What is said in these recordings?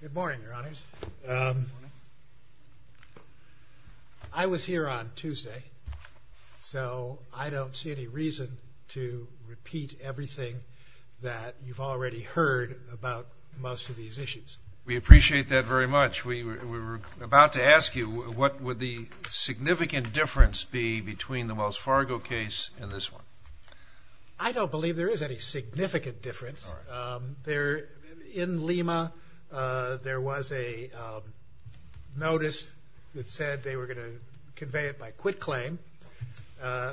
Good morning, Your Honors. I was here on Tuesday, so I don't see any reason to repeat everything that you've already heard about most of these issues. We appreciate that very much. We were about to ask you, what would the significant difference be between the Wells Fargo case and this one? I don't believe there was any significant difference. In Lima, there was a notice that said they were going to convey it by quitclaim,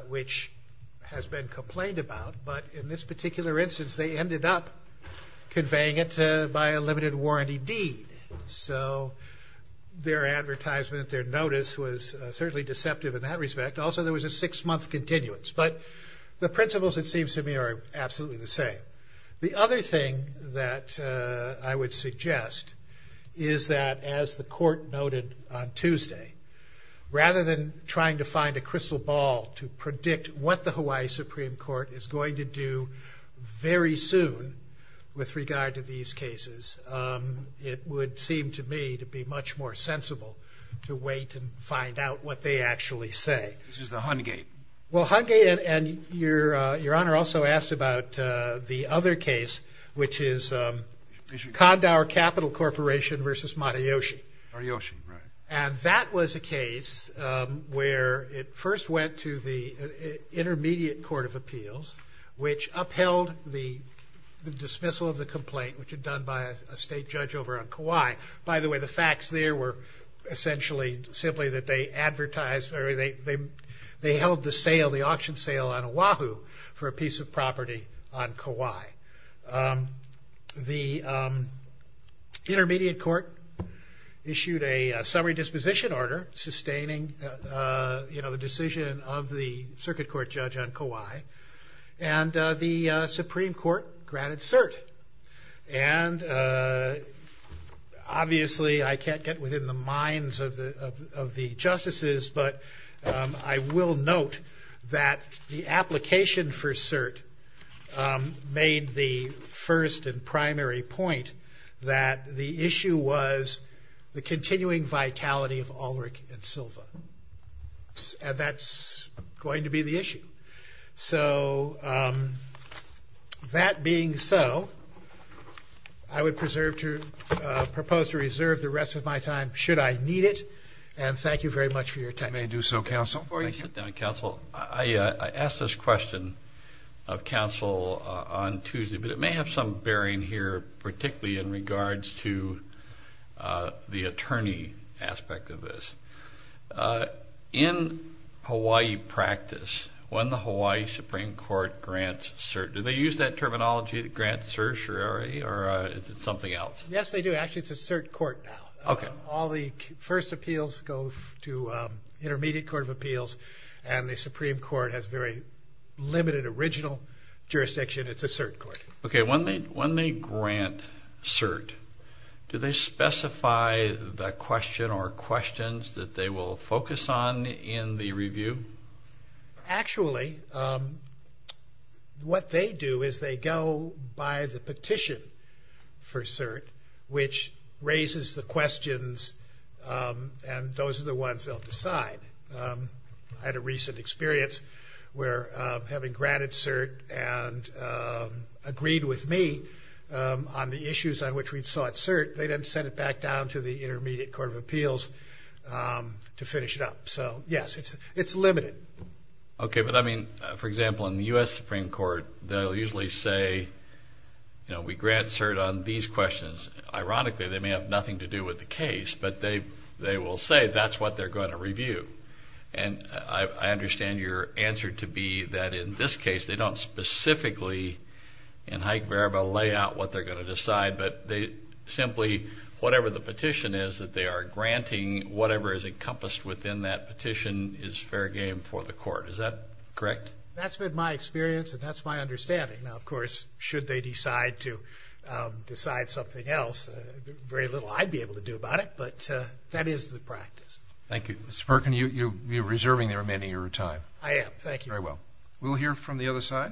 which has been complained about. But in this particular instance, they ended up conveying it by a limited warranty deed. So their advertisement, their notice, was certainly deceptive in that respect. Also, there was a six-month continuance. But the principles, it seems to me, are absolutely the same. The other thing that I would suggest is that, as the Court noted on Tuesday, rather than trying to find a crystal ball to predict what the Hawaii Supreme Court is going to do very soon with regard to these cases, it would seem to me to be much more sensible to wait and find out what they actually say. This is the Hungate. Well, Hungate, and Your Honor also asked about the other case, which is Kandauer Capital Corporation versus Matayoshi. Matayoshi, right. And that was a case where it first went to the Intermediate Court of Appeals, which upheld the dismissal of the complaint, which had done by a state judge over on Kauai. By the way, the facts there were essentially simply that they advertised, or they held the sale, the lease of property on Kauai. The Intermediate Court issued a summary disposition order sustaining, you know, the decision of the Circuit Court judge on Kauai. And the Supreme Court granted cert. And obviously, I can't get within the minds of the justices, but I will note that the application for cert made the first and primary point that the issue was the continuing vitality of Ulrich and Silva. And that's going to be the issue. So that being so, I would propose to reserve the rest of my time, should I need it. And thank you very much for your attention. I may do so, counsel. Before I sit down, counsel, I asked this question of counsel on Tuesday, but it may have some bearing here, particularly in regards to the attorney aspect of this. In Hawaii practice, when the Hawaii Supreme Court grants cert, do they use that terminology, the grant certiorari, or is it something else? Yes, they do. Actually, it's a cert court now. Okay. All the first appeals go to Intermediate Court of Appeals, and the Supreme Court has very limited original jurisdiction. It's a cert court. Okay. When they grant cert, do they specify the question or questions that they will focus on in the application for cert, which raises the questions, and those are the ones they'll decide. I had a recent experience where having granted cert and agreed with me on the issues on which we'd sought cert, they then sent it back down to the Intermediate Court of Appeals to finish it up. So yes, it's limited. Okay, but I mean, for example, in the U.S. Supreme Court, they'll usually say, you know, we grant cert on these questions. Ironically, they may have nothing to do with the case, but they will say that's what they're going to review. And I understand your answer to be that in this case, they don't specifically in high variable lay out what they're going to decide, but they simply, whatever the petition is that they are granting, whatever is encompassed within that petition is fair game for the court. Is that correct? That's been my experience, and that's my understanding. Now, of course, should they decide to decide something else, very little I'd be able to do about it, but that is the practice. Thank you. Mr. Perkin, you're reserving the remainder of your time. I am. Thank you. Very well. We'll hear from the other side.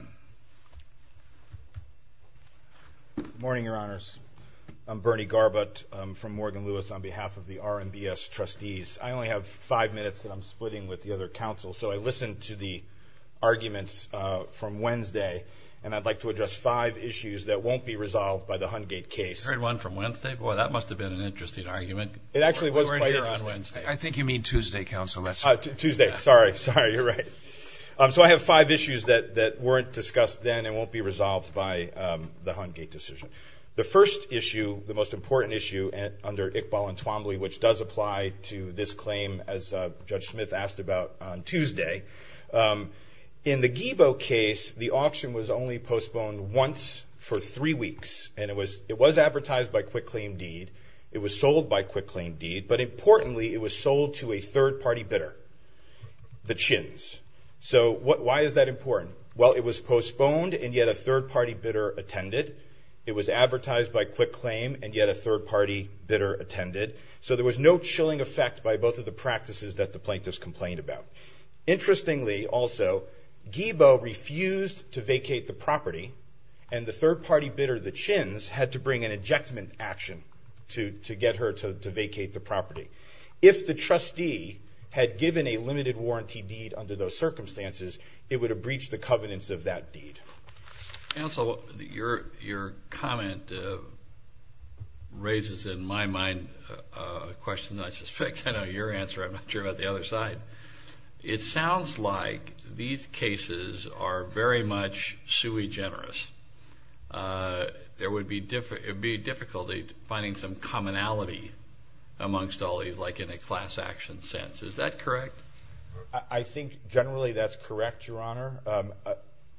Morning, Your Honors. I'm Bernie Garbutt from Morgan Lewis on behalf of the RMBS trustees. I only have five minutes that I'm splitting with the other counsel, so I listened to the arguments from Wednesday, and I'd like to address five issues that won't be resolved by the Hungate case. You heard one from Wednesday? Boy, that must have been an interesting argument. It actually was quite interesting. I think you mean Tuesday, Counsel. Tuesday. Sorry. Sorry. You're right. So I have five issues that weren't discussed then and won't be resolved by the Hungate decision. The first issue, the most important issue under Iqbal and Twombly, which does apply to this claim, as Judge Smith asked about on Tuesday. In the Giebel case, the auction was only postponed once for three weeks, and it was advertised by Quick Claim Deed. It was sold by Quick Claim Deed, but importantly, it was sold to a third-party bidder, the Chins. So why is that important? Well, it was postponed, and yet a third-party bidder attended. It was advertised by Quick Claim, and yet a chilling effect by both of the practices that the plaintiffs complained about. Interestingly, also, Giebel refused to vacate the property, and the third-party bidder, the Chins, had to bring an injectment action to get her to vacate the property. If the trustee had given a limited warranty deed under those circumstances, it would have breached the covenants of that deed. Counsel, your comment raises, in my mind, a question I suspect I know your answer. I'm not sure about the other side. It sounds like these cases are very much sui generis. There would be difficulty finding some commonality amongst all these, like in a class action sense. Is that correct? I think generally that's correct, Your Honor.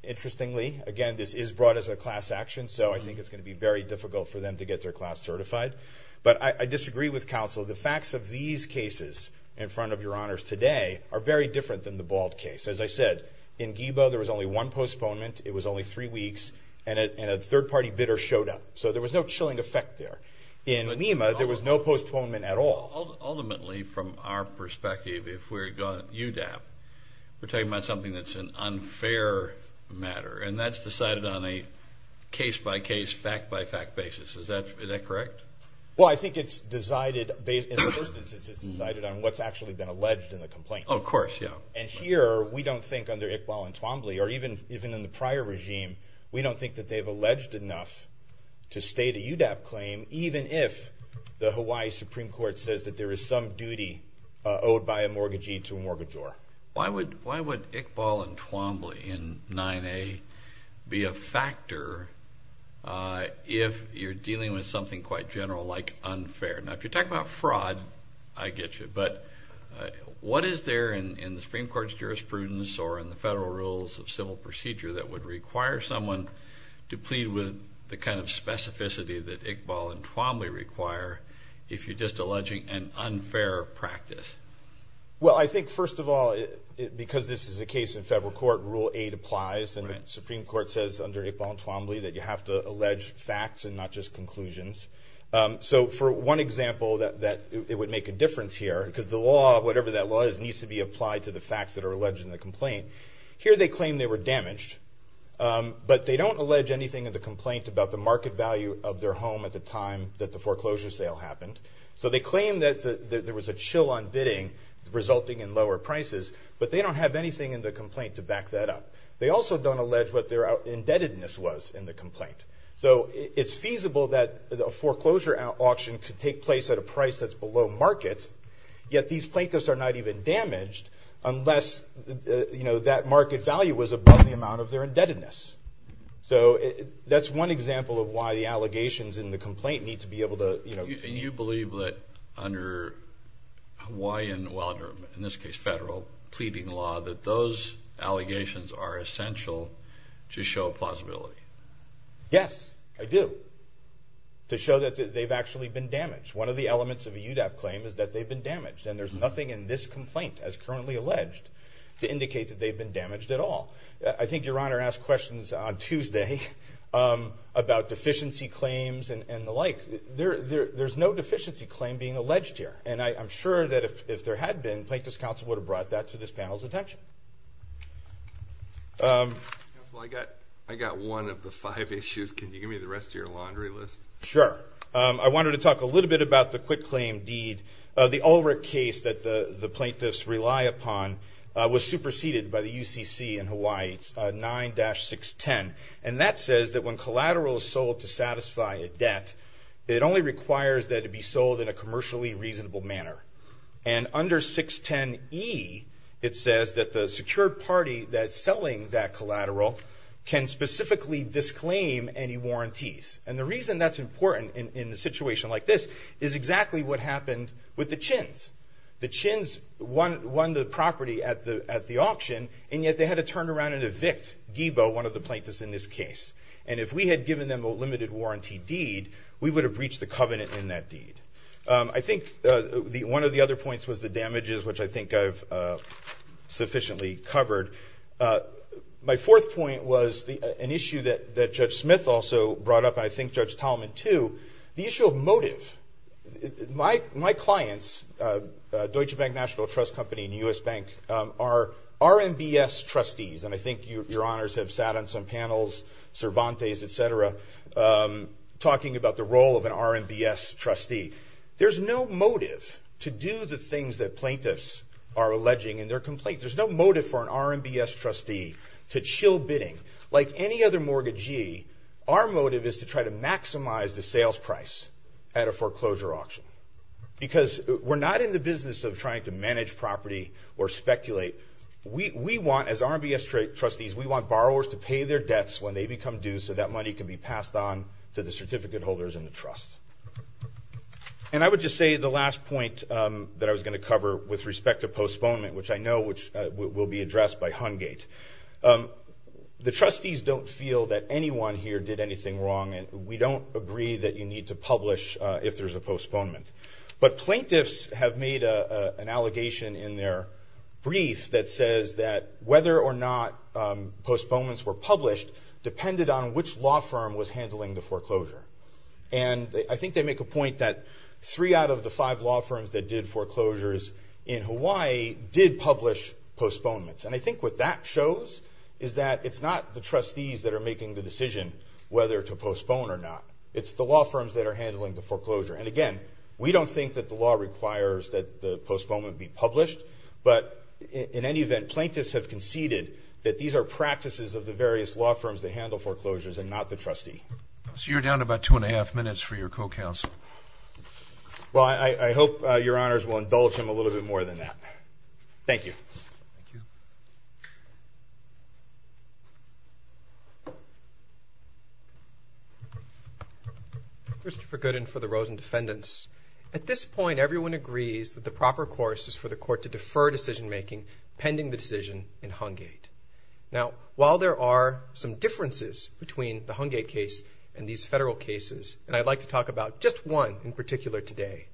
Interestingly, again, this is brought as a class action, so I think it's going to be very difficult for them to get their class certified, but I disagree with counsel. The facts of these cases in front of Your Honors today are very different than the Bald case. As I said, in Giebel, there was only one postponement. It was only three weeks, and a third-party bidder showed up, so there was no chilling effect there. In Lima, there was no postponement at all. Ultimately, from our perspective, if we're going UDAP, we're talking about something that's an unfair matter, and that's decided on a case-by-case, fact-by-fact basis. Is that correct? Well, I think it's decided based on what's actually been alleged in the complaint. Of course, yeah. And here, we don't think under Iqbal and Twombly, or even in the prior regime, we don't think that they've alleged enough to state a UDAP claim, even if the Hawaii Supreme Court says that there is some duty owed by a mortgagee to a mortgagor. Why would Iqbal and Twombly in 9A be a factor if you're dealing with something quite general like unfair? Now, if you're talking about fraud, I get you, but what is there in the Supreme Court's jurisprudence or in the federal rules of civil procedure that would require someone to plead with the kind of specificity that Iqbal and Twombly require if you're just alleging an case in federal court, Rule 8 applies, and the Supreme Court says under Iqbal and Twombly that you have to allege facts and not just conclusions. So for one example that it would make a difference here, because the law, whatever that law is, needs to be applied to the facts that are alleged in the complaint. Here, they claim they were damaged, but they don't allege anything in the complaint about the market value of their home at the time that the foreclosure sale happened. So they claim that there was a chill on bidding resulting in lower prices, but they don't have anything in the complaint to back that up. They also don't allege what their indebtedness was in the complaint. So it's feasible that a foreclosure auction could take place at a price that's below market, yet these plaintiffs are not even damaged unless, you know, that market value was above the amount of their indebtedness. So that's one example of why the allegations in the complaint need to be able to, you know, in this case federal pleading law, that those allegations are essential to show plausibility. Yes, I do, to show that they've actually been damaged. One of the elements of a UDAP claim is that they've been damaged, and there's nothing in this complaint as currently alleged to indicate that they've been damaged at all. I think Your Honor asked questions on Tuesday about deficiency claims and the like. There's no deficiency claim being alleged here, and I'm sure if there had been, Plaintiffs' Counsel would have brought that to this panel's attention. I got one of the five issues. Can you give me the rest of your laundry list? Sure. I wanted to talk a little bit about the quitclaim deed. The Ulrich case that the plaintiffs rely upon was superseded by the UCC in Hawaii. It's 9-610, and that says that when collateral is sold to satisfy a debt, it only requires that it be sold in a commercially reasonable manner. And under 610E, it says that the secured party that's selling that collateral can specifically disclaim any warranties. And the reason that's important in a situation like this is exactly what happened with the Chins. The Chins won the property at the auction, and yet they had to turn around and evict Guibo, one of the plaintiffs in this case. And if we had given them a limited warranty deed, we would have covenanted in that deed. I think one of the other points was the damages, which I think I've sufficiently covered. My fourth point was an issue that Judge Smith also brought up, and I think Judge Tallman, too, the issue of motive. My clients, Deutsche Bank National Trust Company and U.S. Bank, are RMBS trustees. And I think your honors have sat on some panels, Cervantes, etc., talking about the RMBS trustee. There's no motive to do the things that plaintiffs are alleging in their complaint. There's no motive for an RMBS trustee to chill bidding. Like any other mortgagee, our motive is to try to maximize the sales price at a foreclosure auction. Because we're not in the business of trying to manage property or speculate. We want, as RMBS trustees, we want borrowers to pay their debts when they become due so that money can be passed on to the certificate holders in the trust. And I would just say the last point that I was going to cover with respect to postponement, which I know will be addressed by Hungate. The trustees don't feel that anyone here did anything wrong, and we don't agree that you need to publish if there's a postponement. But plaintiffs have made an allegation in their brief that says that whether or not postponements were I think they make a point that three out of the five law firms that did foreclosures in Hawaii did publish postponements. And I think what that shows is that it's not the trustees that are making the decision whether to postpone or not. It's the law firms that are handling the foreclosure. And again, we don't think that the law requires that the postponement be published. But in any event, plaintiffs have conceded that these are practices of the various law firms that handle foreclosures and not the trustee. So you're down to about two and a half minutes for your co-counsel. Well, I hope your honors will indulge him a little bit more than that. Thank you. Christopher Gooden for the Rosen Defendants. At this point, everyone agrees that the proper course is for the court to defer decision making pending the decision in Hungate. Now, while there are some differences between the Hungate case and these federal cases, and I'd like to talk about just one in particular today,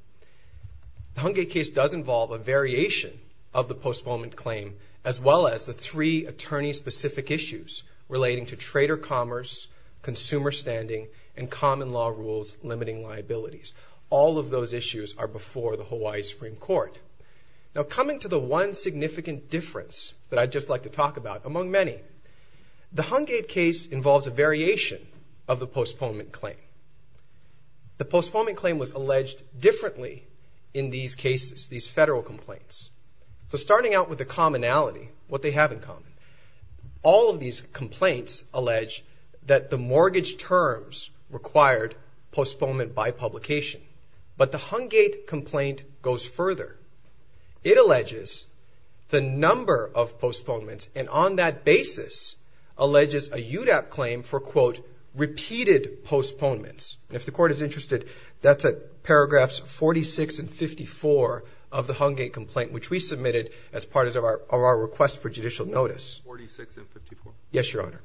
the Hungate case does involve a variation of the postponement claim, as well as the three attorney-specific issues relating to trader commerce, consumer standing, and common law rules limiting liabilities. All of those issues are before the Hawaii Supreme Court. Now, coming to the one significant difference that I'd just like to talk about among many, the postponement claim. The postponement claim was alleged differently in these cases, these federal complaints. So starting out with the commonality, what they have in common, all of these complaints allege that the mortgage terms required postponement by publication. But the Hungate complaint goes further. It alleges the number of postponements, and on that basis, alleges a UDAP claim for, quote, repeated postponements. And if the court is interested, that's at paragraphs 46 and 54 of the Hungate complaint, which we submitted as part of our request for judicial notice. 46 and 54. Yes, Your Honor.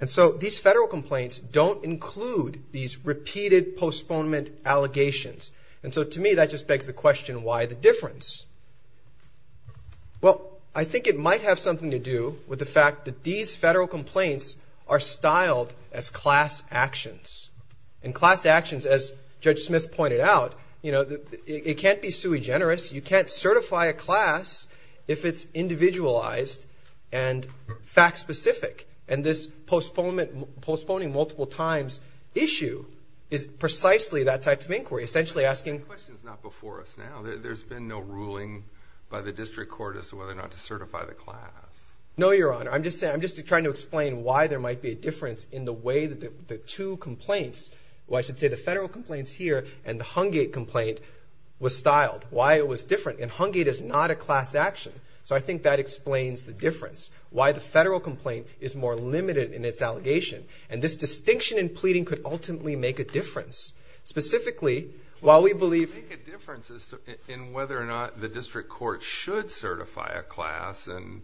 And so these federal complaints don't include these repeated postponement allegations. And so to me, that just begs the question, why the these federal complaints are styled as class actions. And class actions, as Judge Smith pointed out, you know, it can't be sui generis. You can't certify a class if it's individualized and fact-specific. And this postponement, postponing multiple times issue is precisely that type of inquiry, essentially asking... The question's not before us now. There's been no ruling by the district court as to whether or not to certify the class. No, Your Honor. I'm just trying to explain why there might be a difference in the way that the two complaints, or I should say the federal complaints here and the Hungate complaint, was styled, why it was different. And Hungate is not a class action. So I think that explains the difference, why the federal complaint is more limited in its allegation. And this distinction in pleading could ultimately make a difference. Specifically, while we believe... It could make a difference in whether or not the district court should certify a class. And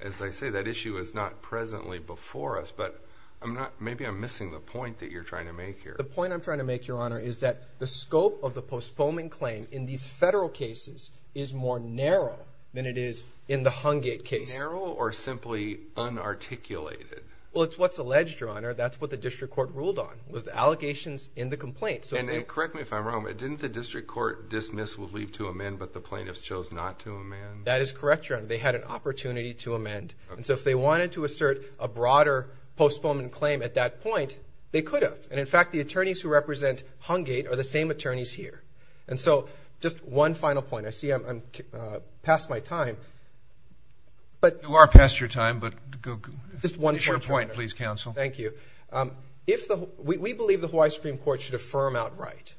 as I say, that issue is not presently before us, but I'm not... Maybe I'm missing the point that you're trying to make here. The point I'm trying to make, Your Honor, is that the scope of the postponement claim in these federal cases is more narrow than it is in the Hungate case. Narrow or simply unarticulated? Well, it's what's alleged, Your Honor. That's what the district court ruled on, was the allegations in the complaint. And correct me if I'm wrong, but didn't the district court dismiss or leave to amend, but the plaintiffs chose not to amend? That is correct, Your Honor. They had an opportunity to amend. And so if they wanted to assert a broader postponement claim at that point, they could have. And in fact, the attorneys who represent Hungate are the same attorneys here. And so just one final point. I see I'm past my time, but... You are past your time, but go... Just one point, Your Honor. It's your point, please, counsel. Thank you. We believe the Hawaii Supreme Court should affirm outright,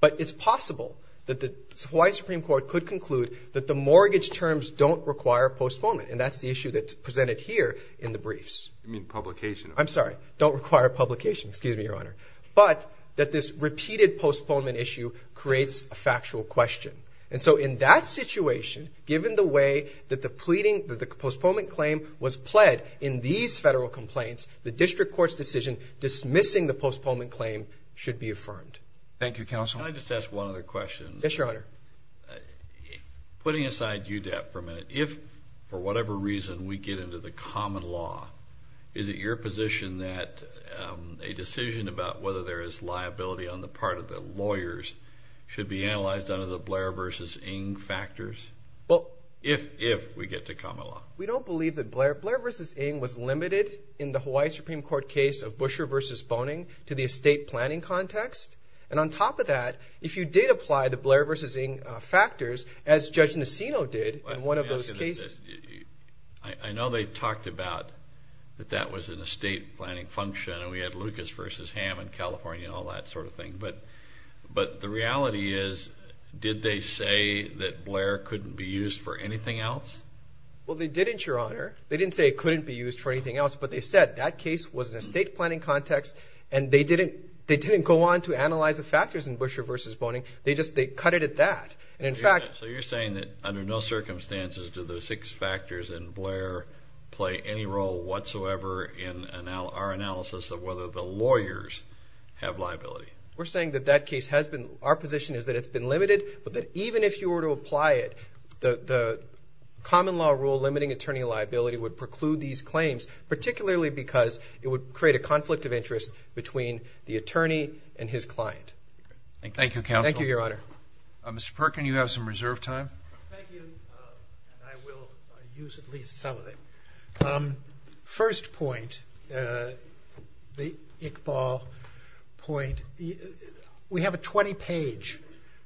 but it's possible that the Hawaii Supreme Court could conclude that the mortgage terms don't require postponement. And that's the issue that's presented here in the briefs. You mean publication? I'm sorry, don't require publication. Excuse me, Your Honor. But that this repeated postponement issue creates a factual question. And so in that situation, given the way that the pleading, that the postponement claim was pled in these federal complaints, the district court's decision dismissing the postponement claim should be affirmed. Thank you, counsel. Can I just ask one other question? Yes, Your Honor. Putting aside UDEP for a minute, if, for whatever reason, we get into the common law, is it your position that a decision about whether there is liability on the part of the lawyers should be analyzed under the Blair v. Ng factors? Well... If, if we get to common law. We don't believe that Blair... Blair v. Ng was limited in the Hawaii Supreme Court case of Busher v. Boning to the estate planning context. And on top of that, if you did apply the Blair v. Ng factors, as Judge Nacino did in one of those cases... I know they talked about that that was an estate planning function, and we had Lucas v. Hamm in California, all that sort of thing. But the reality is, did they say that Blair couldn't be used for anything else? Well, they didn't, Your Honor. They didn't say it couldn't be used for anything else, but they said that case was in an estate planning context and they didn't go on to analyze the factors in Busher v. Boning, they just, they cut it at that. And in fact... So you're saying that under no circumstances do the six factors in Blair play any role whatsoever in our analysis of whether the lawyers have liability? We're saying that that case has been... Our position is that it's been limited, but that even if you were to apply it, the common law rule limiting attorney liability would preclude these claims, particularly because it would create a conflict of interest between the attorney and his client. Thank you. Thank you, counsel. Thank you, Your Honor. Mr. Perkin, you have some reserve time. Thank you. And I will use at least some of it. First point, the Iqbal point, we have a 20 page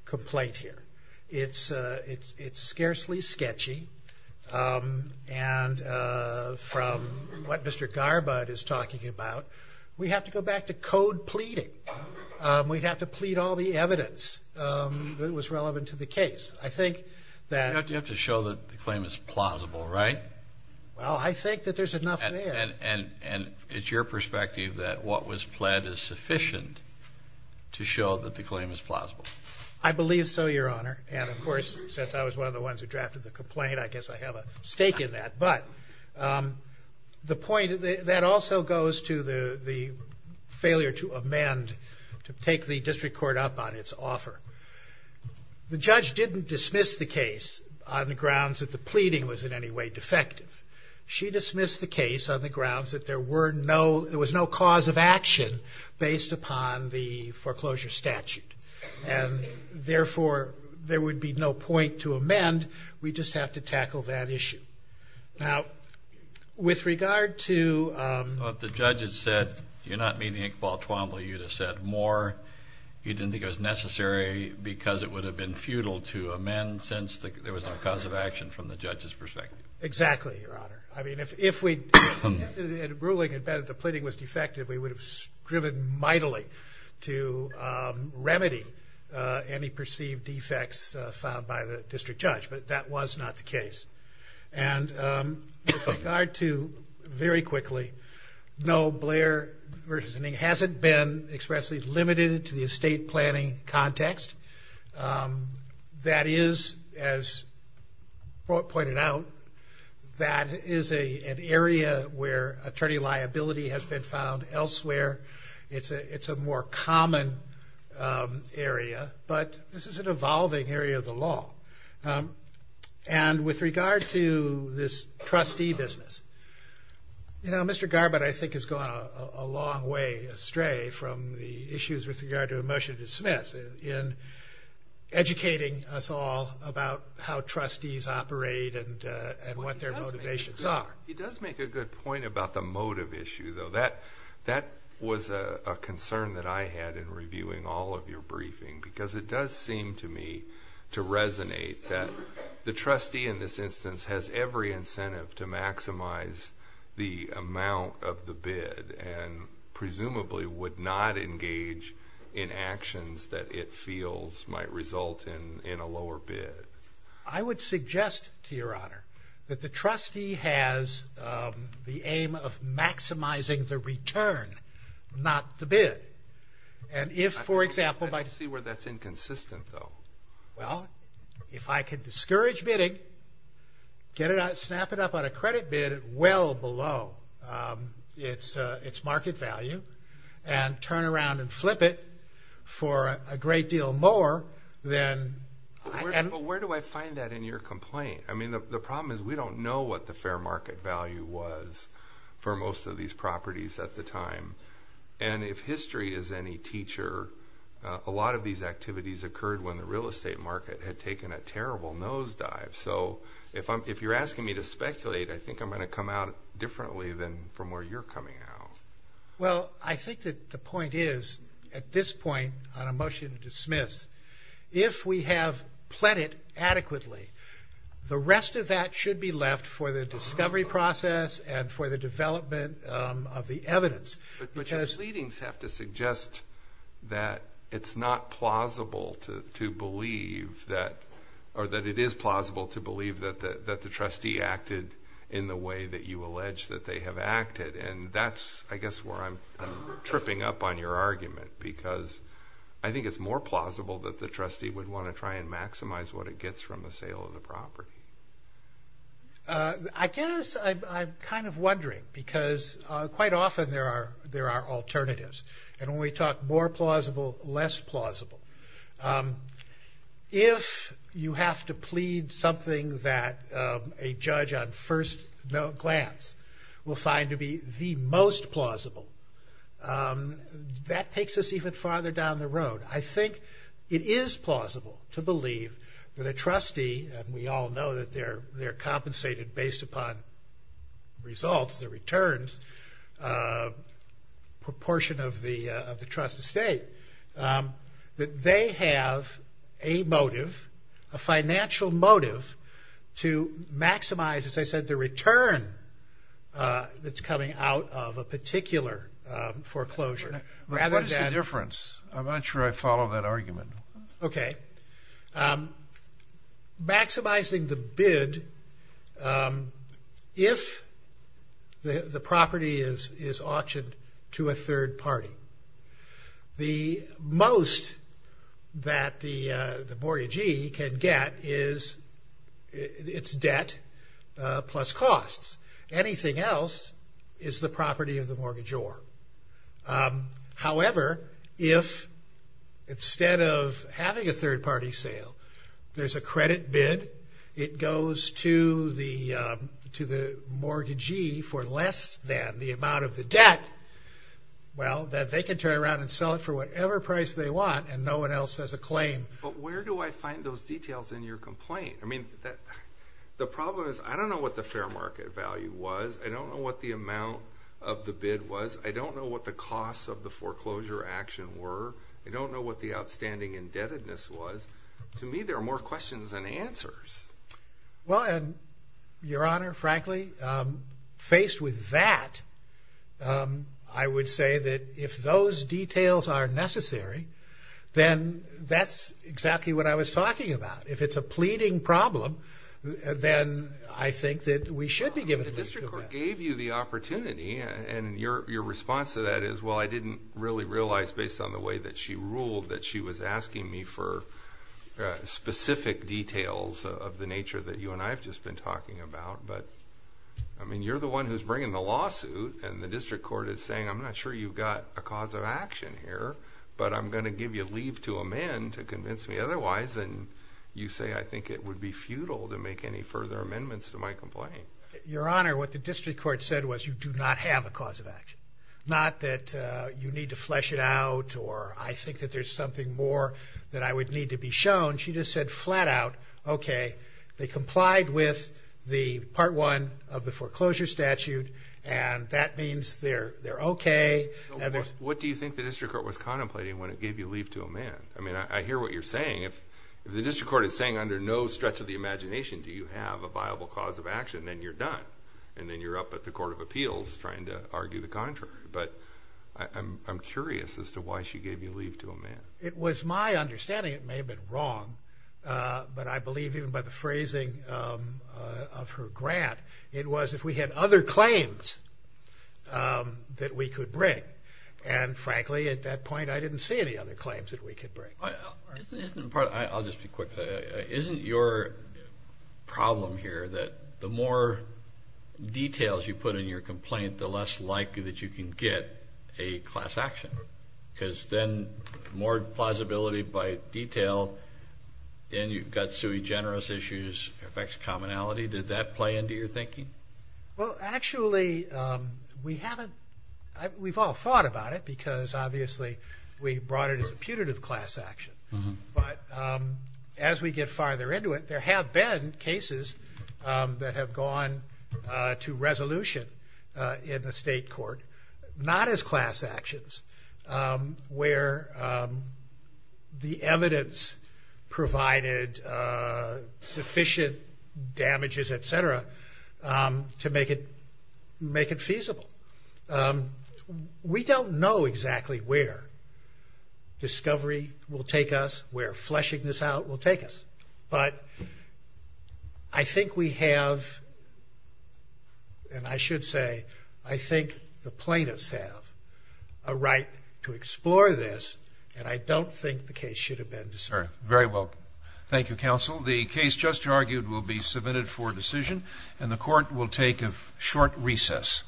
complaint here. It's scarcely sketchy, and from what Mr. Garbud is talking about, we have to go back to code pleading. We'd have to plead all the evidence that was relevant to the case. I think that... You have to show that the claim is plausible, right? Well, I think that there's enough there. And it's your perspective that what was pled is sufficient to show that the claim is plausible. I believe so, Your Honor. And of course, since I was one of the ones who drafted the complaint, I guess I have a stake in that. But that also goes to the failure to amend, to take the district court up on its offer. The judge didn't dismiss the case on the grounds that the pleading was in any way defective. She dismissed the case on the grounds that there was no cause of action based upon the foreclosure statute. And therefore, there would be no point to amend, we just have to tackle that issue. Now, with regard to... Well, if the judge had said, you're not meeting Inc. Paul Twombly, you'd have said more. You didn't think it was necessary because it would have been futile to amend since there was no cause of action from the judge's perspective. Exactly, Your Honor. I mean, if we... If the ruling had been that the pleading was defective, we would have driven mightily to remedy any perceived defects found by the case. And with regard to... Very quickly, no Blair versioning hasn't been expressly limited to the estate planning context. That is, as pointed out, that is an area where attorney liability has been found elsewhere. It's a more common area, but this is an evolving area of the law. And with regard to this trustee business, Mr. Garbutt, I think, has gone a long way astray from the issues with regard to a motion to dismiss in educating us all about how trustees operate and what their motivations are. He does make a good point about the motive issue, though. That was a concern that I had in reviewing all of your briefing because it does seem to me to resonate that the trustee in this instance has every incentive to maximize the amount of the bid and presumably would not engage in actions that it feels might result in a lower bid. I would suggest, to Your Honor, that the trustee has the aim of maximizing the return, not the bid. And if, for example, by... I see where that's inconsistent, though. Well, if I could discourage bidding, snap it up on a credit bid well below its market value and turn around and flip it for a great deal more, then... But where do I find that in your complaint? The problem is we don't know what the fair market value was for most of these properties at the time. And if history is any teacher, a lot of these activities occurred when the real estate market had taken a terrible nosedive. So if you're asking me to speculate, I think I'm gonna come out differently than from where you're coming out. Well, I think that the point is, at this point on a motion to dismiss, if we have pled it adequately, the rest of that should be left for the discovery process and for the development of the evidence. But your argument that it's not plausible to believe that... Or that it is plausible to believe that the trustee acted in the way that you allege that they have acted. And that's, I guess, where I'm tripping up on your argument, because I think it's more plausible that the trustee would wanna try and maximize what it gets from the sale of the property. I guess I'm kind of wondering, because quite often there are alternatives. And when we talk more plausible, less plausible. If you have to plead something that a judge on first glance will find to be the most plausible, that takes us even farther down the road. I think it is plausible to believe that a trustee, and we all know that they're compensated based upon results, their returns, proportion of the trust estate, that they have a motive, a financial motive to maximize, as I said, the return that's coming out of a particular foreclosure, rather than... What is the difference? I'm not sure I follow that argument. Okay. Maximizing the bid, if the property is auctioned to a third party, the most that the mortgagee can get is its debt plus costs. Anything else is the property of the mortgagor. However, if instead of having a third party sale, there's a credit bid, it goes to the mortgagee for less than the amount of the debt, well, that they can turn around and sell it for whatever price they want, and no one else has a claim. But where do I find those details in your complaint? The problem is, I don't know what the fair market value was, I don't know what the amount of the bid was, I don't know what the costs of the foreclosure action were, I don't know what the outstanding indebtedness was. To me, there are more questions than answers. Well, and Your Honor, frankly, faced with that, I would say that if those details are necessary, then that's exactly what I was talking about. If it's a pleading problem, then I think that we should be giving... The district court gave you the opportunity, and your response to that is, well, I didn't really realize based on the way that she ruled that she was asking me for specific details of the nature that you and I have just been talking about. But, I mean, you're the one who's bringing the lawsuit, and the district court is saying, I'm not sure you've got a cause of action here, but I'm gonna give you leave to amend to convince me otherwise, and you say, I think it would be futile to make any further amendments to my complaint. Your Honor, what the district court said was, you do not have a cause of action. Not that you need to flesh it out, or I think that there's something more that I would need to be shown. She just said flat out, okay, they complied with the part one of the foreclosure statute, and that means they're okay. What do you think the district court was contemplating when it gave you leave to amend? I mean, I hear what you're saying. If the district court is saying under no stretch of the imagination, do you have a viable cause of action, then you're done, and then you're up at the Court of Appeals trying to argue the contrary. But I'm curious as to why she gave you leave to amend. It was my understanding, it may have been wrong, but I believe even by the phrasing of her grant, it was if we had other claims that we could bring. And frankly, at that point, I didn't see any other claims that we could bring. I'll just be quick. Isn't your problem here that the more details you put in your complaint, the less likely that you can get a class action? Because then more plausibility by detail, and you've got sui generis issues, it affects commonality. Did that play into your thinking? Well, actually, we haven't... We've all thought about it, because obviously, we brought it as a putative class action. But as we get farther into it, there have been cases that have gone to resolution in the state court, not as class actions, where the evidence provided sufficient damages, etc., to make it feasible. We don't know exactly where discovery will take us, where fleshing this out will take us. But I think we have... And I should say, I think the plaintiffs have a right to explore this, and I don't think the case should have been... Sir, very well. Thank you, Counsel. The case just argued will be heard. The court will take a short recess.